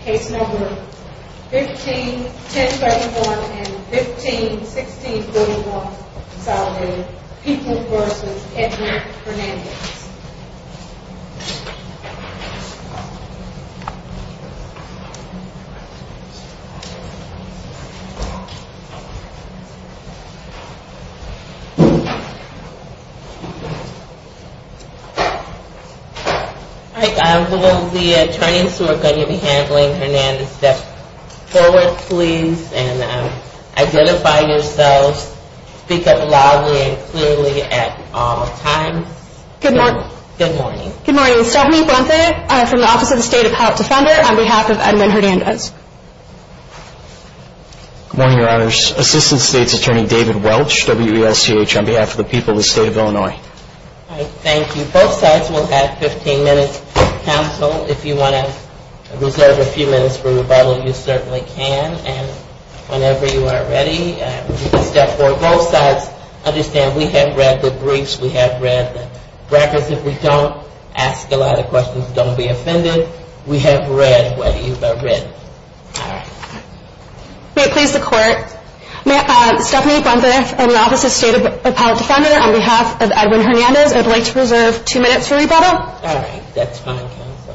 Case No. 15-1071 and 15-1641, consolidated, People v. Edward Hernandez All right, will the attorneys who are going to be handling Hernandez step forward please and identify yourselves, speak up loudly and clearly at all times. Good morning, Stephanie Brunthe from the Office of the State Appellate Defender on behalf of Edmund Hernandez. Good morning, your honors. Assistant State's Attorney David Welch, WUSTH, on behalf of the people of the state of Illinois. All right, thank you. Both sides will have 15 minutes. Counsel, if you want to reserve a few minutes for rebuttal, you certainly can. And whenever you are ready, you can step forward. Both sides understand we have read the briefs, we have read the records. If we don't ask a lot of questions, don't be offended. We have read what you have read. May it please the court, Stephanie Brunthe from the Office of the State Appellate Defender on behalf of Edmund Hernandez, I would like to reserve two minutes for rebuttal. All right, that's fine, counsel.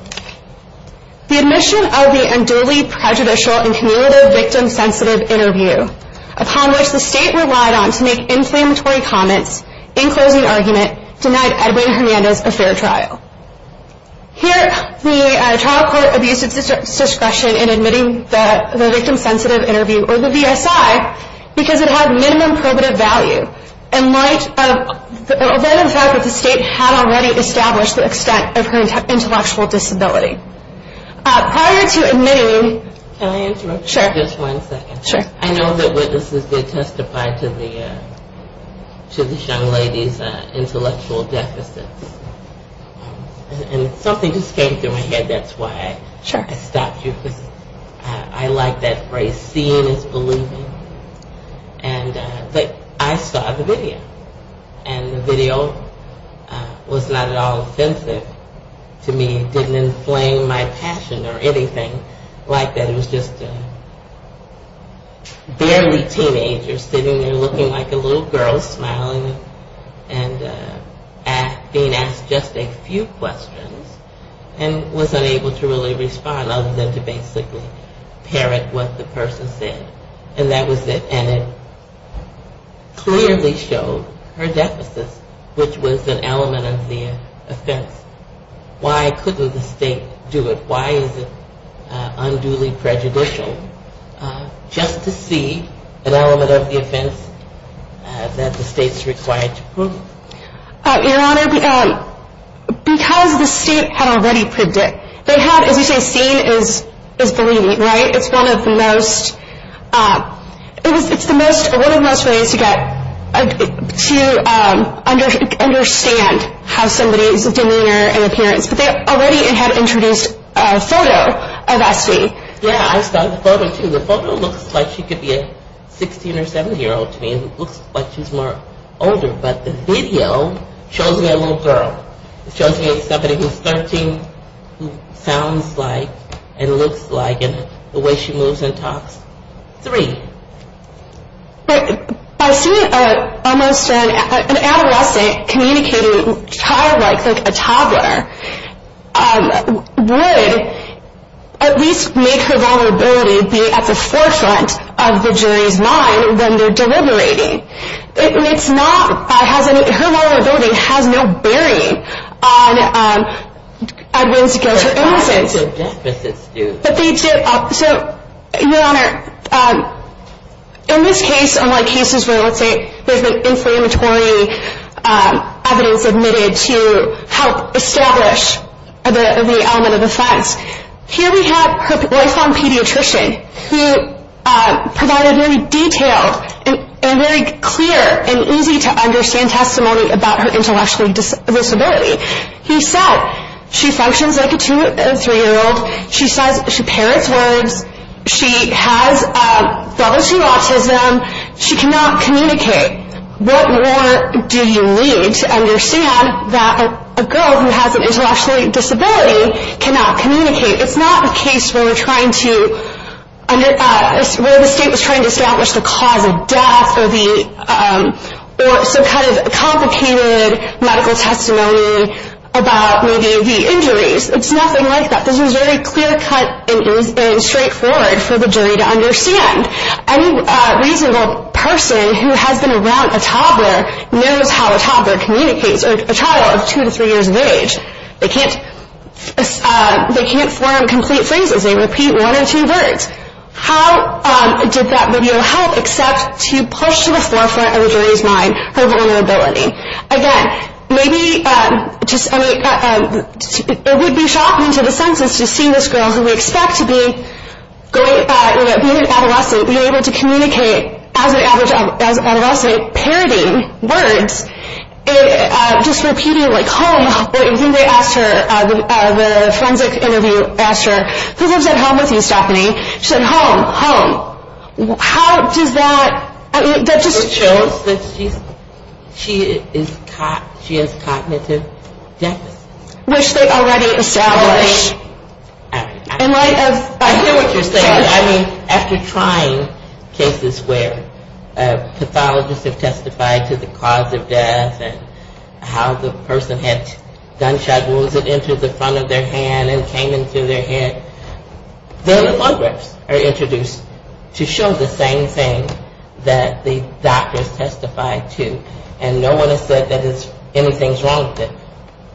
The admission of the unduly prejudicial and cumulative victim-sensitive interview, upon which the state relied on to make inflammatory comments in closing argument, denied Edmund Hernandez a fair trial. Here, the trial court abused its discretion in admitting the victim-sensitive interview, or the VSI, because it had minimum probative value, in light of the fact that the state had already established the extent of her intellectual disability. Prior to admitting... Can I interrupt you for just one second? Sure. I know that witnesses did testify to the young lady's intellectual deficits, and something just came through my head, that's why I stopped you. Sure. I like that phrase, seeing is believing, and I saw the video, and the video was not at all offensive to me, didn't inflame my passion or anything like that. It was just barely teenagers sitting there looking like little girls, smiling, and being asked just a few questions, and was unable to really respond, other than to basically parrot what the person said. And that was it, and it clearly showed her deficits, which was an element of the offense. Why couldn't the state do it? Why is it unduly prejudicial? Just to see an element of the offense that the state's required to prove. Your Honor, because the state had already predicted... They had, as you say, seen is believing, right? It's one of the most... It's one of the most ways to get... To understand how somebody's demeanor and appearance, but they already had introduced a photo of Espy. Yeah, I saw the photo too. The photo looks like she could be a 16 or 17-year-old to me, and it looks like she's older, but the video shows me a little girl. It shows me somebody who's 13, who sounds like, and looks like, and the way she moves and talks. Three. By seeing almost an adolescent communicating childlike, like a toddler, would at least make her vulnerability be at the forefront of the jury's mind when they're deliberating. It's not... Her vulnerability has no bearing on Edwin's guilt or innocence. Her deficits do. So, Your Honor, in this case, unlike cases where, let's say, there's been inflammatory evidence admitted to help establish the element of offense, here we have her lifelong pediatrician who provided very detailed and very clear and easy-to-understand testimony about her intellectual disability. He said, she functions like a 2- and 3-year-old. She says, she parrots words. She has relative autism. She cannot communicate. What more do you need to understand that a girl who has an intellectual disability cannot communicate? It's not a case where we're trying to, where the state was trying to establish the cause of death or some kind of complicated medical testimony about, maybe, the injuries. It's nothing like that. This is very clear-cut and straightforward for the jury to understand. Any reasonable person who has been around a toddler knows how a toddler communicates, or a child of 2 to 3 years of age. They can't form complete phrases. They repeat one or two words. How did that video help except to push to the forefront of the jury's mind her vulnerability? Again, maybe, it would be shocking to the census to see this girl who we expect to be, being an adolescent, be able to communicate as an adolescent, parroting words, just repeating, like, home, when they asked her, the forensic interviewer asked her, who lives at home with you, Stephanie? She said, home, home. How does that, I mean, that just shows that she has cognitive deficits. Which they already established. I hear what you're saying. I mean, after trying cases where pathologists have testified to the cause of death and how the person had gunshot wounds that entered the front of their hand and came into their head, then the photographs are introduced to show the same thing that the doctors testified to. And no one has said that anything's wrong with it.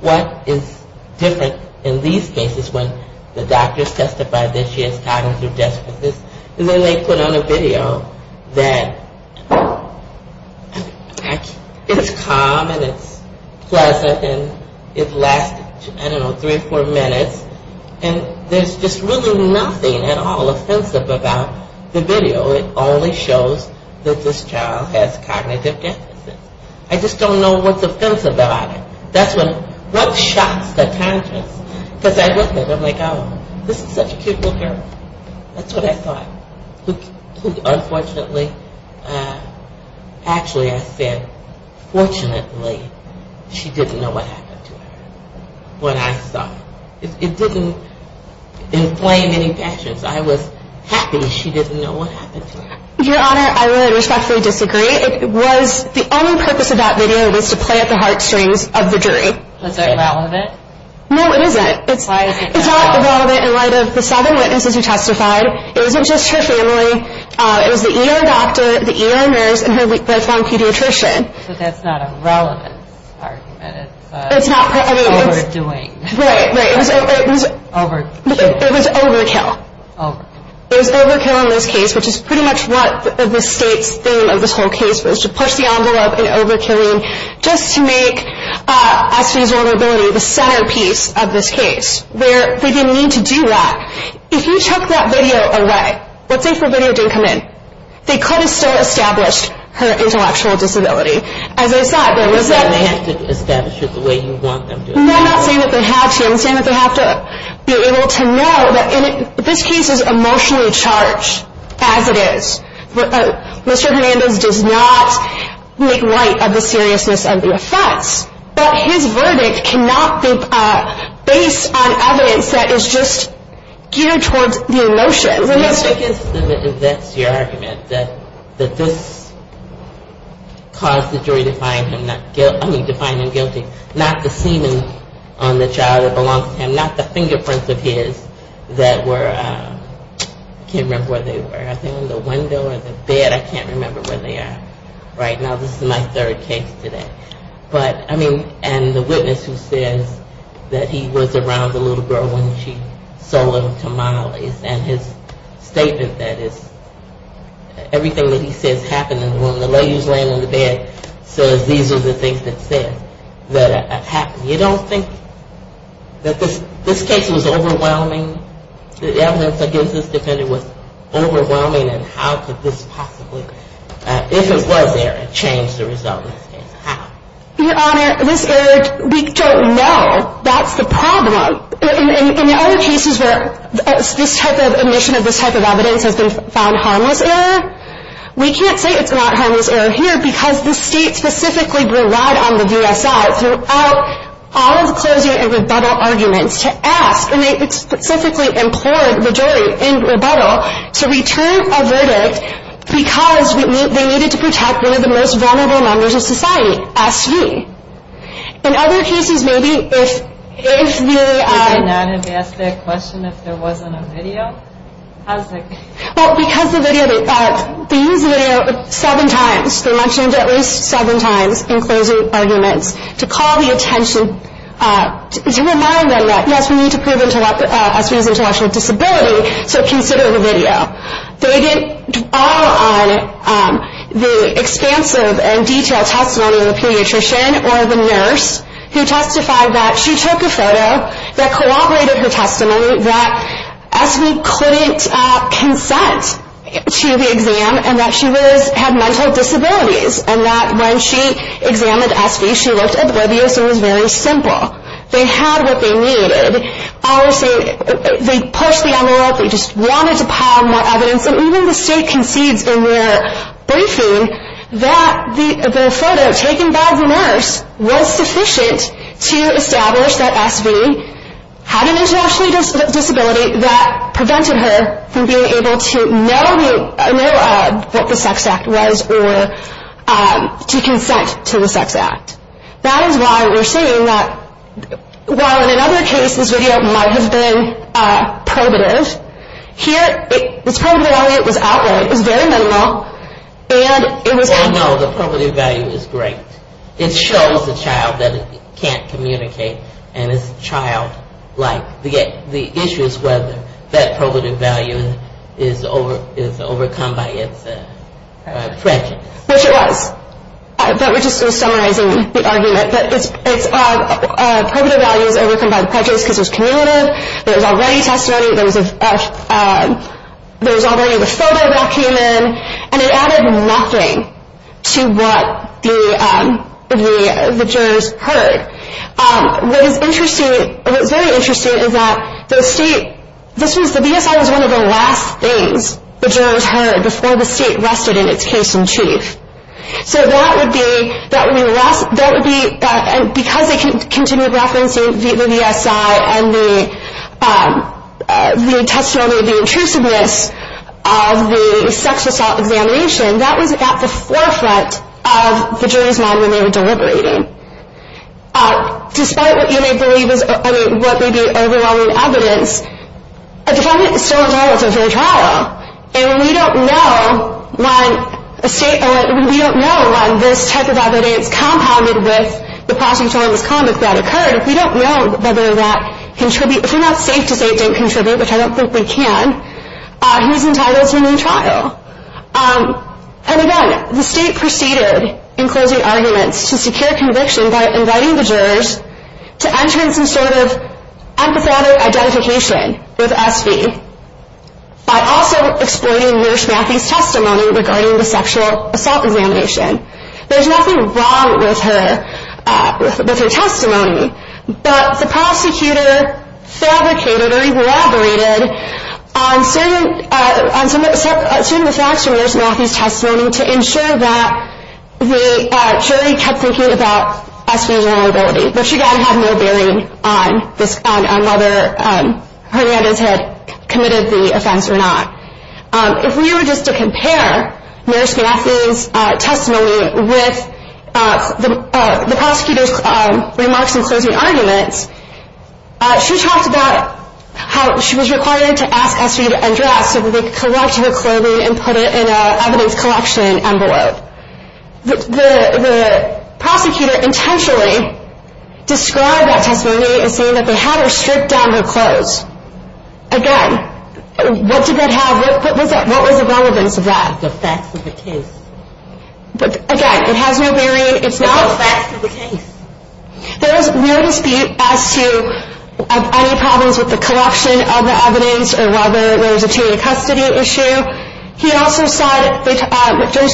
What is different in these cases when the doctors testified that she has cognitive deficits is that they put on a video that it's calm and it's pleasant and it lasted, I don't know, three or four minutes, and there's just really nothing at all offensive about the video. It only shows that this child has cognitive deficits. I just don't know what's offensive about it. That's what shocks the patients. Because I look at it, I'm like, oh, this is such a cute little girl. That's what I thought. Unfortunately, actually, I said, fortunately, she didn't know what happened to her. What I saw. It didn't inflame any passions. I was happy she didn't know what happened to her. Your Honor, I would respectfully disagree. The only purpose of that video was to play at the heartstrings of the jury. Is that relevant? No, it isn't. Why is it not? It's not relevant in light of the seven witnesses who testified. It wasn't just her family. It was the ER doctor, the ER nurse, and her lifelong pediatrician. But that's not a relevant argument. It's overdoing. Right, right. It was overkill. Overkill. It was overkill in this case, which is pretty much what the state's theme of this whole case was, to push the envelope in overkilling, just to make SV's vulnerability the centerpiece of this case. They didn't need to do that. If you took that video away, let's say if the video didn't come in, they could have still established her intellectual disability. As I said, there was that man. You said they had to establish it the way you want them to. No, I'm not saying that they had to. I'm saying that they have to be able to know that this case is emotionally charged as it is. Mr. Hernandez does not make light of the seriousness of the offense, but his verdict cannot be based on evidence that is just geared towards the emotion. I guess that's your argument, that this caused the jury to find him guilty, not the semen on the child that belongs to him, not the fingerprints of his that were, I can't remember where they were, I think on the window or the bed, I can't remember where they are right now. This is my third case today. But, I mean, and the witness who says that he was around the little girl when she sold him to Molly's, and his statement that everything that he says happened in the room, and the ladies laying on the bed says these are the things that said that happened. You don't think that this case was overwhelming, the evidence against this defendant was overwhelming, and how could this possibly, if it was there, change the result of this case? How? Your Honor, this error, we don't know. That's the problem. In other cases where this type of omission of this type of evidence has been found harmless error, we can't say it's not harmless error here because the state specifically relied on the VSI throughout all of the closure and rebuttal arguments to ask, and they specifically implored the jury in rebuttal to return a verdict because they needed to protect one of the most vulnerable members of society, S.U. In other cases, maybe, if they... If they did not have asked that question, if there wasn't a video? Well, because the video, they used the video seven times. They mentioned it at least seven times in closing arguments to call the attention, to remind them that, yes, we need to prove S.U.'s intellectual disability, so consider the video. They didn't dwell on the expansive and detailed testimony of the pediatrician or the nurse who testified that she took a photo that corroborated her testimony, that S.V. couldn't consent to the exam and that she had mental disabilities and that when she examined S.V., she looked oblivious and was very simple. They had what they needed. They pushed the envelope. They just wanted to pile more evidence. And even the state concedes in their briefing that the photo taken by the nurse was sufficient to establish that S.V. had an intellectual disability that prevented her from being able to know what the sex act was or to consent to the sex act. That is why we're saying that while in another case, this video might have been probative, here, it was probative value, it was outright, it was very minimal, and it was... Oh, no, the probative value is great. It shows the child that it can't communicate, and it's childlike. The issue is whether that probative value is overcome by its prejudice. Which it was. But we're just summarizing the argument that probative value is overcome by prejudice because it was cumulative, there was already testimony, there was already the photo that came in, and it added nothing to what the jurors heard. What is interesting, what's very interesting is that the state, the V.S.I. was one of the last things the jurors heard before the state rested in its case in chief. So that would be, because they continued referencing the V.S.I. and the testimony of the intrusiveness of the sexual assault examination, that was at the forefront of the jury's mind when they were deliberating. Despite what you may believe is, I mean, what may be overwhelming evidence, a defendant is still entitled to a fair trial, and we don't know when this type of evidence compounded with the prosecutorial misconduct that occurred. We don't know whether that contributed, if we're not safe to say it didn't contribute, which I don't think we can, he's entitled to a new trial. And again, the state proceeded in closing arguments to secure conviction by inviting the jurors to enter in some sort of empathetic identification with Espy, by also exploiting Nurse Matthews' testimony regarding the sexual assault examination. There's nothing wrong with her testimony, but the prosecutor fabricated or elaborated on certain facts from Nurse Matthews' testimony to ensure that the jury kept thinking about Espy's vulnerability, which again had no bearing on whether Hernandez had committed the offense or not. If we were just to compare Nurse Matthews' testimony with the prosecutor's remarks in closing arguments, she talked about how she was required to ask Espy to undress so that they could collect her clothing and put it in an evidence collection envelope. The prosecutor intentionally described that testimony as saying that they had her strip down her clothes. Again, what was the relevance of that? The facts of the case. Again, it has no bearing. It's not the facts of the case. There was no dispute as to any problems with the collection of the evidence or whether there was a jury custody issue. Nurse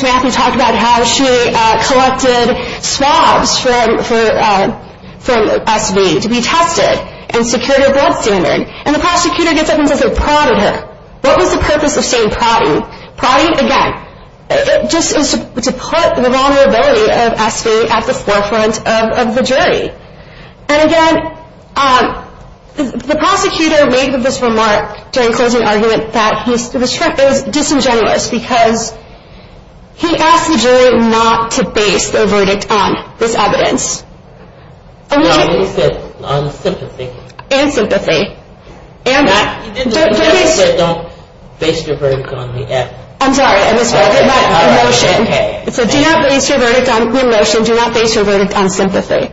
Matthews talked about how she collected swabs from Espy to be tested and secured her blood standard. And the prosecutor gets up and says they prodded her. What was the purpose of saying prodding? Prodding, again, just to put the vulnerability of Espy at the forefront of the jury. And again, the prosecutor made this remark during closing argument that he was disingenuous because he asked the jury not to base their verdict on this evidence. No, he said on sympathy. And sympathy. He didn't say don't base your verdict on the evidence. I'm sorry, I misread it. Emotion. He said do not base your verdict on emotion. Do not base your verdict on sympathy.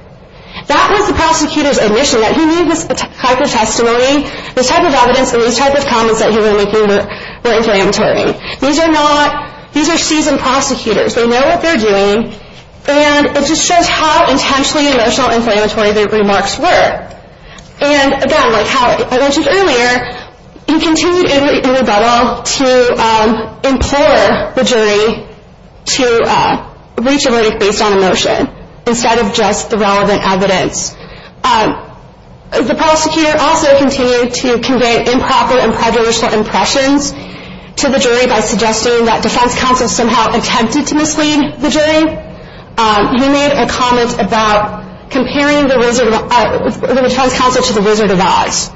That was the prosecutor's admission that he needed this type of testimony, this type of evidence, and these type of comments that he was making were inflammatory. These are seasoned prosecutors. They know what they're doing. And it just shows how intentionally emotional and inflammatory their remarks were. And, again, like how I mentioned earlier, he continued in rebuttal to implore the jury to reach a verdict based on emotion instead of just the relevant evidence. The prosecutor also continued to convey improper and prejudicial impressions to the jury by suggesting that defense counsels somehow attempted to mislead the jury. He made a comment about comparing the defense counsel to the Wizard of Oz.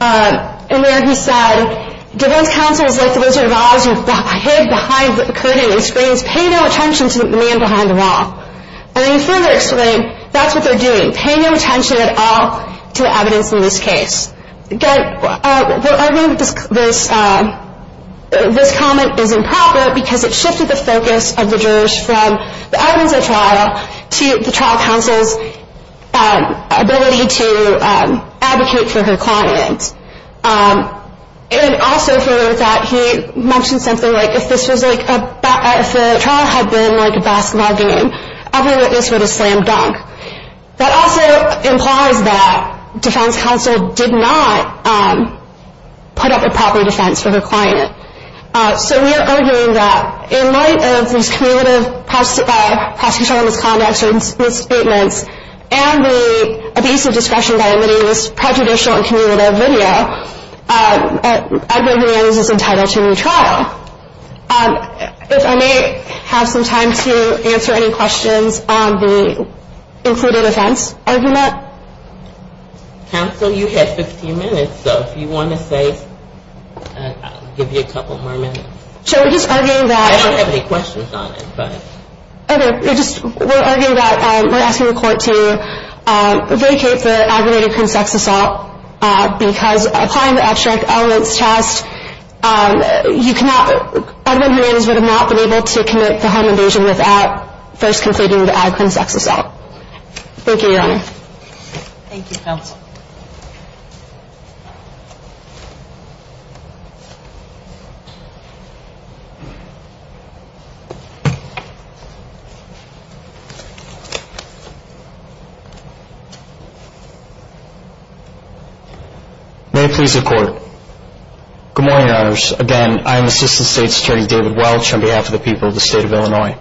And there he said defense counsels like the Wizard of Oz who hid behind the curtain and screens pay no attention to the man behind the wall. And he further explained that's what they're doing, paying no attention at all to the evidence in this case. Again, arguing this comment is improper because it shifted the focus of the jurors from the evidence at trial to the trial counsel's ability to advocate for her client. And also further with that, he mentioned something like if the trial had been like a basketball game, every witness would have slammed dunk. That also implies that defense counsel did not put up a proper defense for her client. So we are arguing that in light of these cumulative prosecutorial misconducts and misstatements and the abuse of discretion by emitting this prejudicial and cumulative video, Edward Hernandez is entitled to a new trial. If I may have some time to answer any questions on the included offense argument. Counsel, you had 15 minutes. So if you want to say, I'll give you a couple more minutes. So we're just arguing that. I don't have any questions on it, but. Okay. We're just arguing that we're asking the court to vacate the aggravated crime sex assault because applying the abstract elements test, Edward Hernandez would have not been able to commit the home invasion without first completing the aggravated crime sex assault. Thank you, Your Honor. Thank you, Counsel. May it please the court. Good morning, Your Honors. Again, I am Assistant State Security David Welch on behalf of the people of the state of Illinois.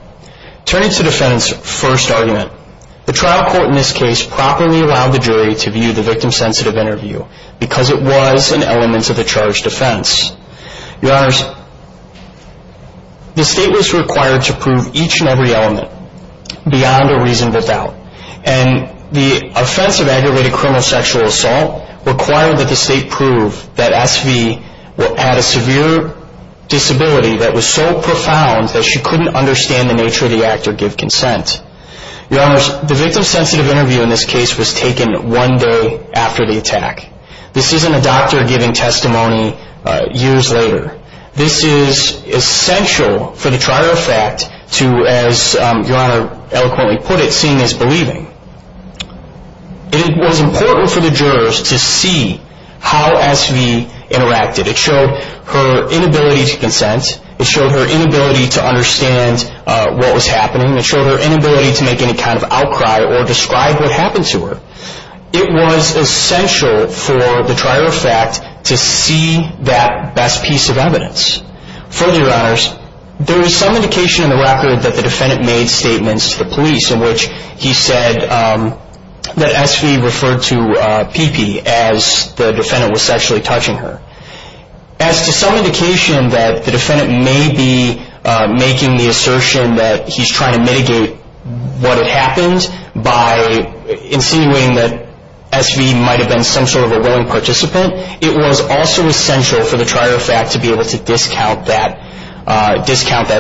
Turning to the defendant's first argument, the trial court in this case properly allowed the jury to view the victim-sensitive interview because it was an element of the charged offense. Your Honors, the state was required to prove each and every element beyond a reasonable doubt. And the offense of aggravated criminal sexual assault required that the state prove that SV had a severe disability that was so profound that she couldn't understand the nature of the act or give consent. Your Honors, the victim-sensitive interview in this case was taken one day after the attack. This isn't a doctor giving testimony years later. This is essential for the trial fact to, as Your Honor eloquently put it, to what we are seeing as believing. It was important for the jurors to see how SV interacted. It showed her inability to consent. It showed her inability to understand what was happening. It showed her inability to make any kind of outcry or describe what happened to her. It was essential for the trial fact to see that best piece of evidence. Further, Your Honors, there is some indication in the record that the defendant made statements to the police in which he said that SV referred to PP as the defendant was sexually touching her. As to some indication that the defendant may be making the assertion that he's trying to mitigate what had happened by insinuating that SV might have been some sort of a willing participant, it was also essential for the trial fact to be able to discount that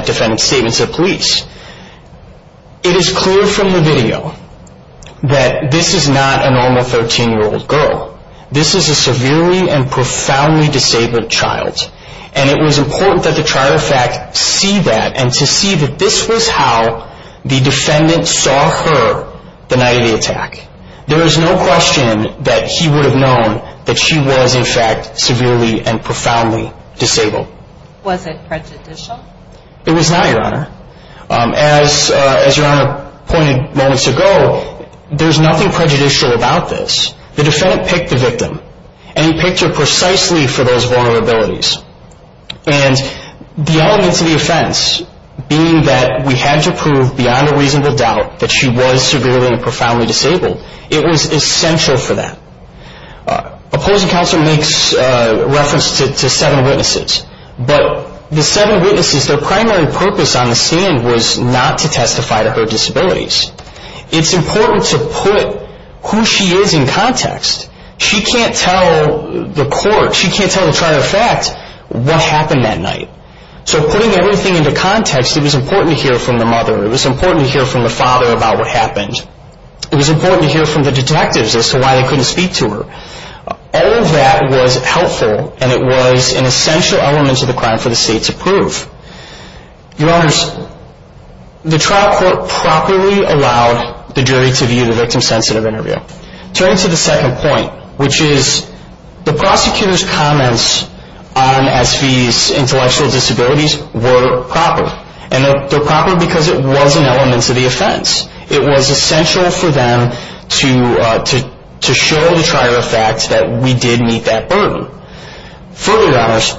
defendant's statement to the police. It is clear from the video that this is not a normal 13-year-old girl. This is a severely and profoundly disabled child, and it was important that the trial fact see that and to see that this was how the defendant saw her the night of the attack. There is no question that he would have known that she was, in fact, severely and profoundly disabled. Was it prejudicial? It was not, Your Honor. As Your Honor pointed moments ago, there's nothing prejudicial about this. The defendant picked the victim, and he picked her precisely for those vulnerabilities. And the elements of the offense being that we had to prove beyond a reasonable doubt that she was severely and profoundly disabled, it was essential for that. Opposing counsel makes reference to seven witnesses, but the seven witnesses, their primary purpose on the scene was not to testify to her disabilities. It's important to put who she is in context. She can't tell the court. She can't tell the trial fact what happened that night. So putting everything into context, it was important to hear from the mother. It was important to hear from the father about what happened. It was important to hear from the detectives as to why they couldn't speak to her. All of that was helpful, and it was an essential element of the crime for the state to prove. Your Honors, the trial court properly allowed the jury to view the victim-sensitive interview. Turning to the second point, which is the prosecutor's comments on S.V.'s intellectual disabilities were proper. And they're proper because it was an element of the offense. It was essential for them to show the trier of facts that we did meet that burden. Further, Your Honors,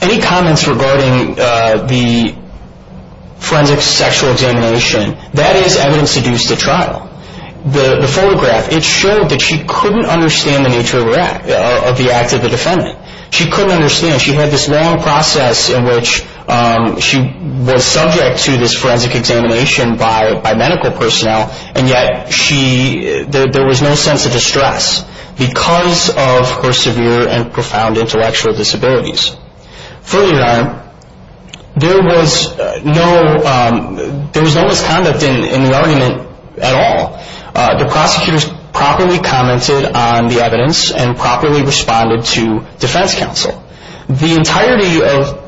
any comments regarding the forensic sexual examination, that is evidence deduced at trial. The photograph, it showed that she couldn't understand the nature of the act of the defendant. She couldn't understand. She had this long process in which she was subject to this forensic examination by medical personnel, and yet there was no sense of distress because of her severe and profound intellectual disabilities. Further, Your Honor, there was no misconduct in the argument at all. The prosecutors properly commented on the evidence and properly responded to defense counsel. The entirety of the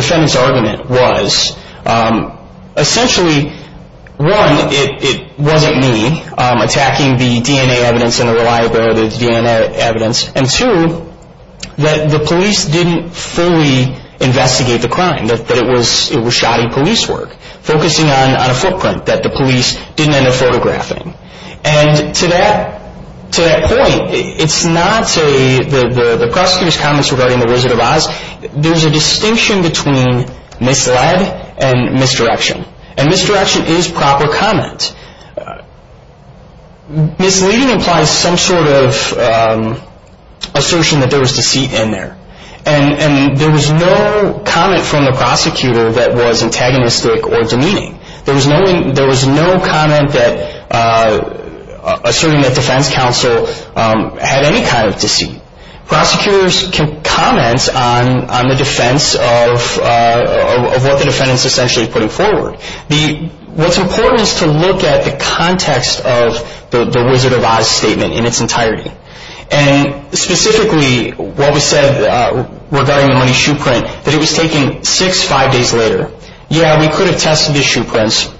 defendant's argument was essentially, one, it wasn't me attacking the DNA evidence and the reliability of the DNA evidence, and two, that the police didn't fully investigate the crime, that it was shoddy police work, focusing on a footprint that the police didn't end up photographing. And to that point, it's not the prosecutor's comments regarding the Wizard of Oz. There's a distinction between misled and misdirection, and misdirection is proper comment. Misleading implies some sort of assertion that there was deceit in there, and there was no comment from the prosecutor that was antagonistic or demeaning. There was no comment asserting that defense counsel had any kind of deceit. Prosecutors can comment on the defense of what the defendant's essentially putting forward. What's important is to look at the context of the Wizard of Oz statement in its entirety, and specifically what was said regarding the money shoe print, that it was taken six, five days later. Yeah, we could have tested the shoe prints,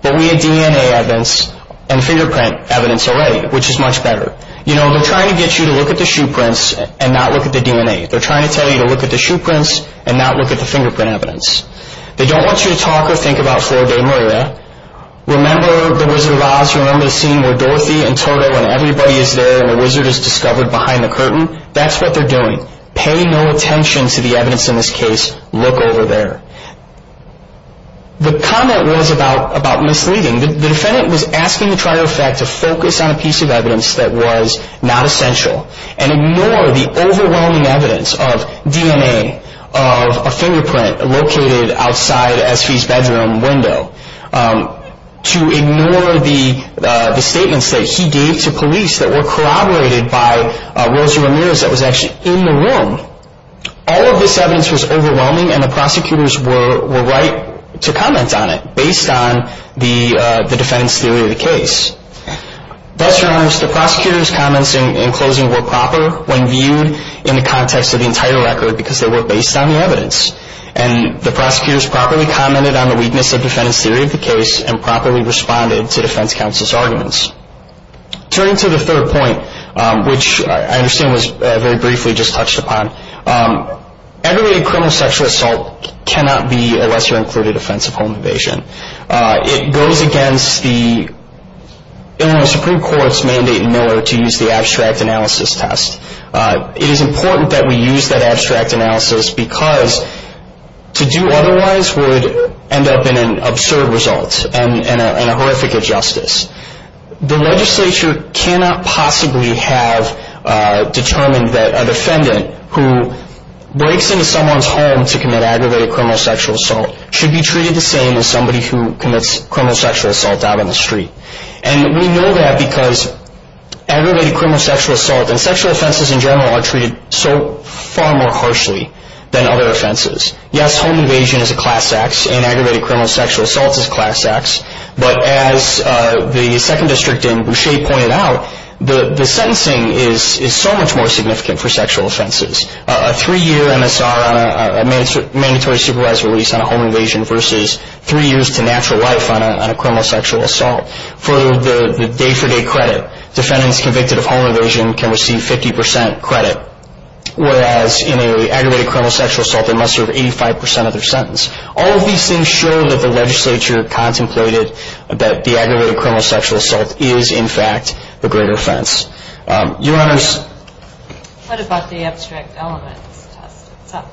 but we had DNA evidence and fingerprint evidence already, which is much better. You know, they're trying to get you to look at the shoe prints and not look at the DNA. They're trying to tell you to look at the shoe prints and not look at the fingerprint evidence. They don't want you to talk or think about four-day murder. Remember the Wizard of Oz, remember the scene where Dorothy and Toto and everybody is there, and the Wizard is discovered behind the curtain? That's what they're doing. Pay no attention to the evidence in this case. Look over there. The comment was about misleading. The defendant was asking the trier of fact to focus on a piece of evidence that was not essential and ignore the overwhelming evidence of DNA, of a fingerprint located outside Espy's bedroom window, to ignore the statements that he gave to police that were corroborated by Rosa Ramirez that was actually in the room. All of this evidence was overwhelming, and the prosecutors were right to comment on it, based on the defendant's theory of the case. The prosecutors' comments in closing were proper when viewed in the context of the entire record because they were based on the evidence, and the prosecutors properly commented on the weakness of the defendant's theory of the case and properly responded to defense counsel's arguments. Turning to the third point, which I understand was very briefly just touched upon, aggravated criminal sexual assault cannot be a lesser-included offense of home evasion. It goes against the Illinois Supreme Court's mandate in Miller to use the abstract analysis test. It is important that we use that abstract analysis because to do otherwise would end up in an absurd result and a horrific injustice. The legislature cannot possibly have determined that a defendant who breaks into someone's home to commit aggravated criminal sexual assault should be treated the same as somebody who commits criminal sexual assault out on the street. And we know that because aggravated criminal sexual assault and sexual offenses in general are treated so far more harshly than other offenses. Yes, home evasion is a class act, and aggravated criminal sexual assault is a class act, but as the second district in Boucher pointed out, the sentencing is so much more significant for sexual offenses. A three-year MSR on a mandatory supervised release on a home evasion versus three years to natural life on a criminal sexual assault. For the day-for-day credit, defendants convicted of home evasion can receive 50 percent credit, whereas in an aggravated criminal sexual assault, they must serve 85 percent of their sentence. All of these things show that the legislature contemplated that the aggravated criminal sexual assault is, in fact, the greater offense. What about the abstract elements test itself?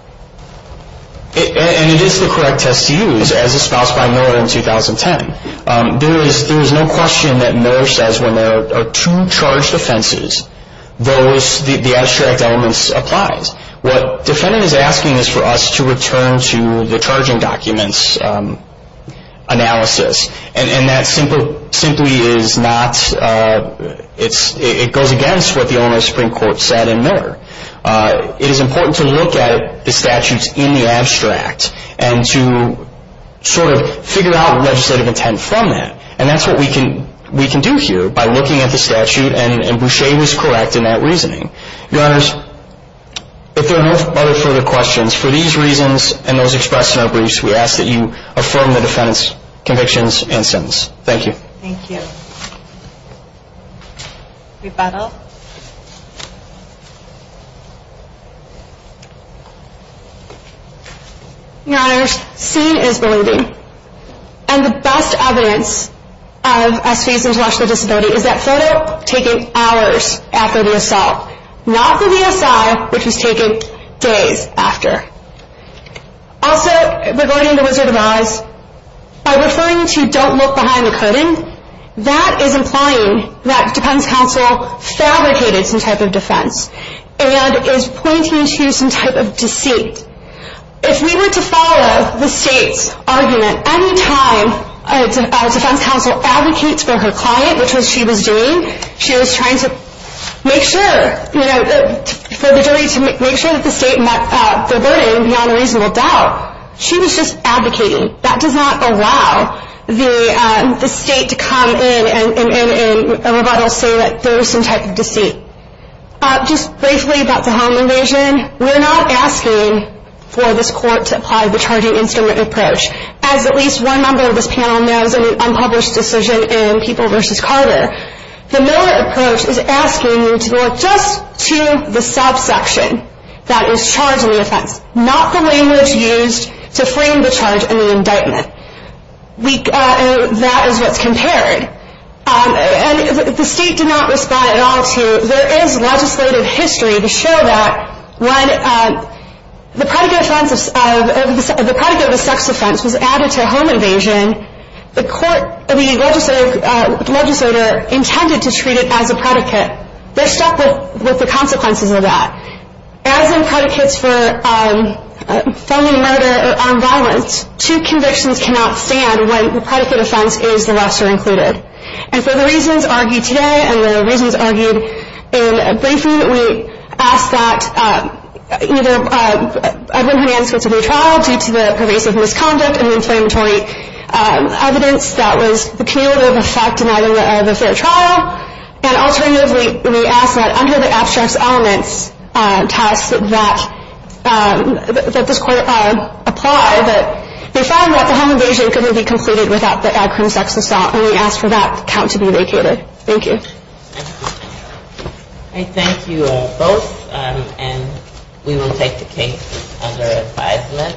And it is the correct test to use as espoused by Miller in 2010. There is no question that Miller says when there are two charged offenses, the abstract elements applies. What defendant is asking is for us to return to the charging documents analysis, and that simply is not, it goes against what the owner of the Supreme Court said in Miller. It is important to look at the statutes in the abstract and to sort of figure out legislative intent from that, and that's what we can do here by looking at the statute, and Boucher was correct in that reasoning. Your Honors, if there are no further questions, for these reasons and those expressed in our briefs, we ask that you affirm the defendant's convictions and sentence. Thank you. Thank you. Rebuttal. Your Honors, seen is believing. And the best evidence of SV's intellectual disability is that photo taken hours after the assault, not the VSI, which was taken days after. Also, regarding the Wizard of Oz, by referring to don't look behind the curtain, that is implying that defense counsel fabricated some type of defense and is pointing to some type of deceit. If we were to follow the state's argument, any time a defense counsel advocates for her client, which is what she was doing, she was trying to make sure, you know, for the jury to make sure that the state met the burden beyond a reasonable doubt. She was just advocating. That does not allow the state to come in and rebuttal say that there was some type of deceit. Just briefly about the home invasion, we're not asking for this court to apply the charging instrument approach. As at least one member of this panel knows in an unpublished decision in People v. Carter, the Miller approach is asking you to go just to the subsection that is charged in the offense, not the language used to frame the charge in the indictment. That is what's compared. And the state did not respond at all to, there is legislative history to show that when the predicate offense of, the predicate of a sex offense was added to a home invasion, the court, the legislator intended to treat it as a predicate. They're stuck with the consequences of that. As in predicates for felony murder or armed violence, two convictions cannot stand when the predicate offense is the lesser included. And for the reasons argued today and the reasons argued in briefing, we ask that either Edwin Hernandez go to the trial due to the pervasive misconduct and the inflammatory evidence that was the cumulative effect in either of the fair trial. And alternatively, we ask that under the abstracts elements task that this court apply, that we find that the home invasion couldn't be completed without the ad crim sex assault. And we ask for that count to be vacated. Thank you. I thank you both. And we will take the case under advisement.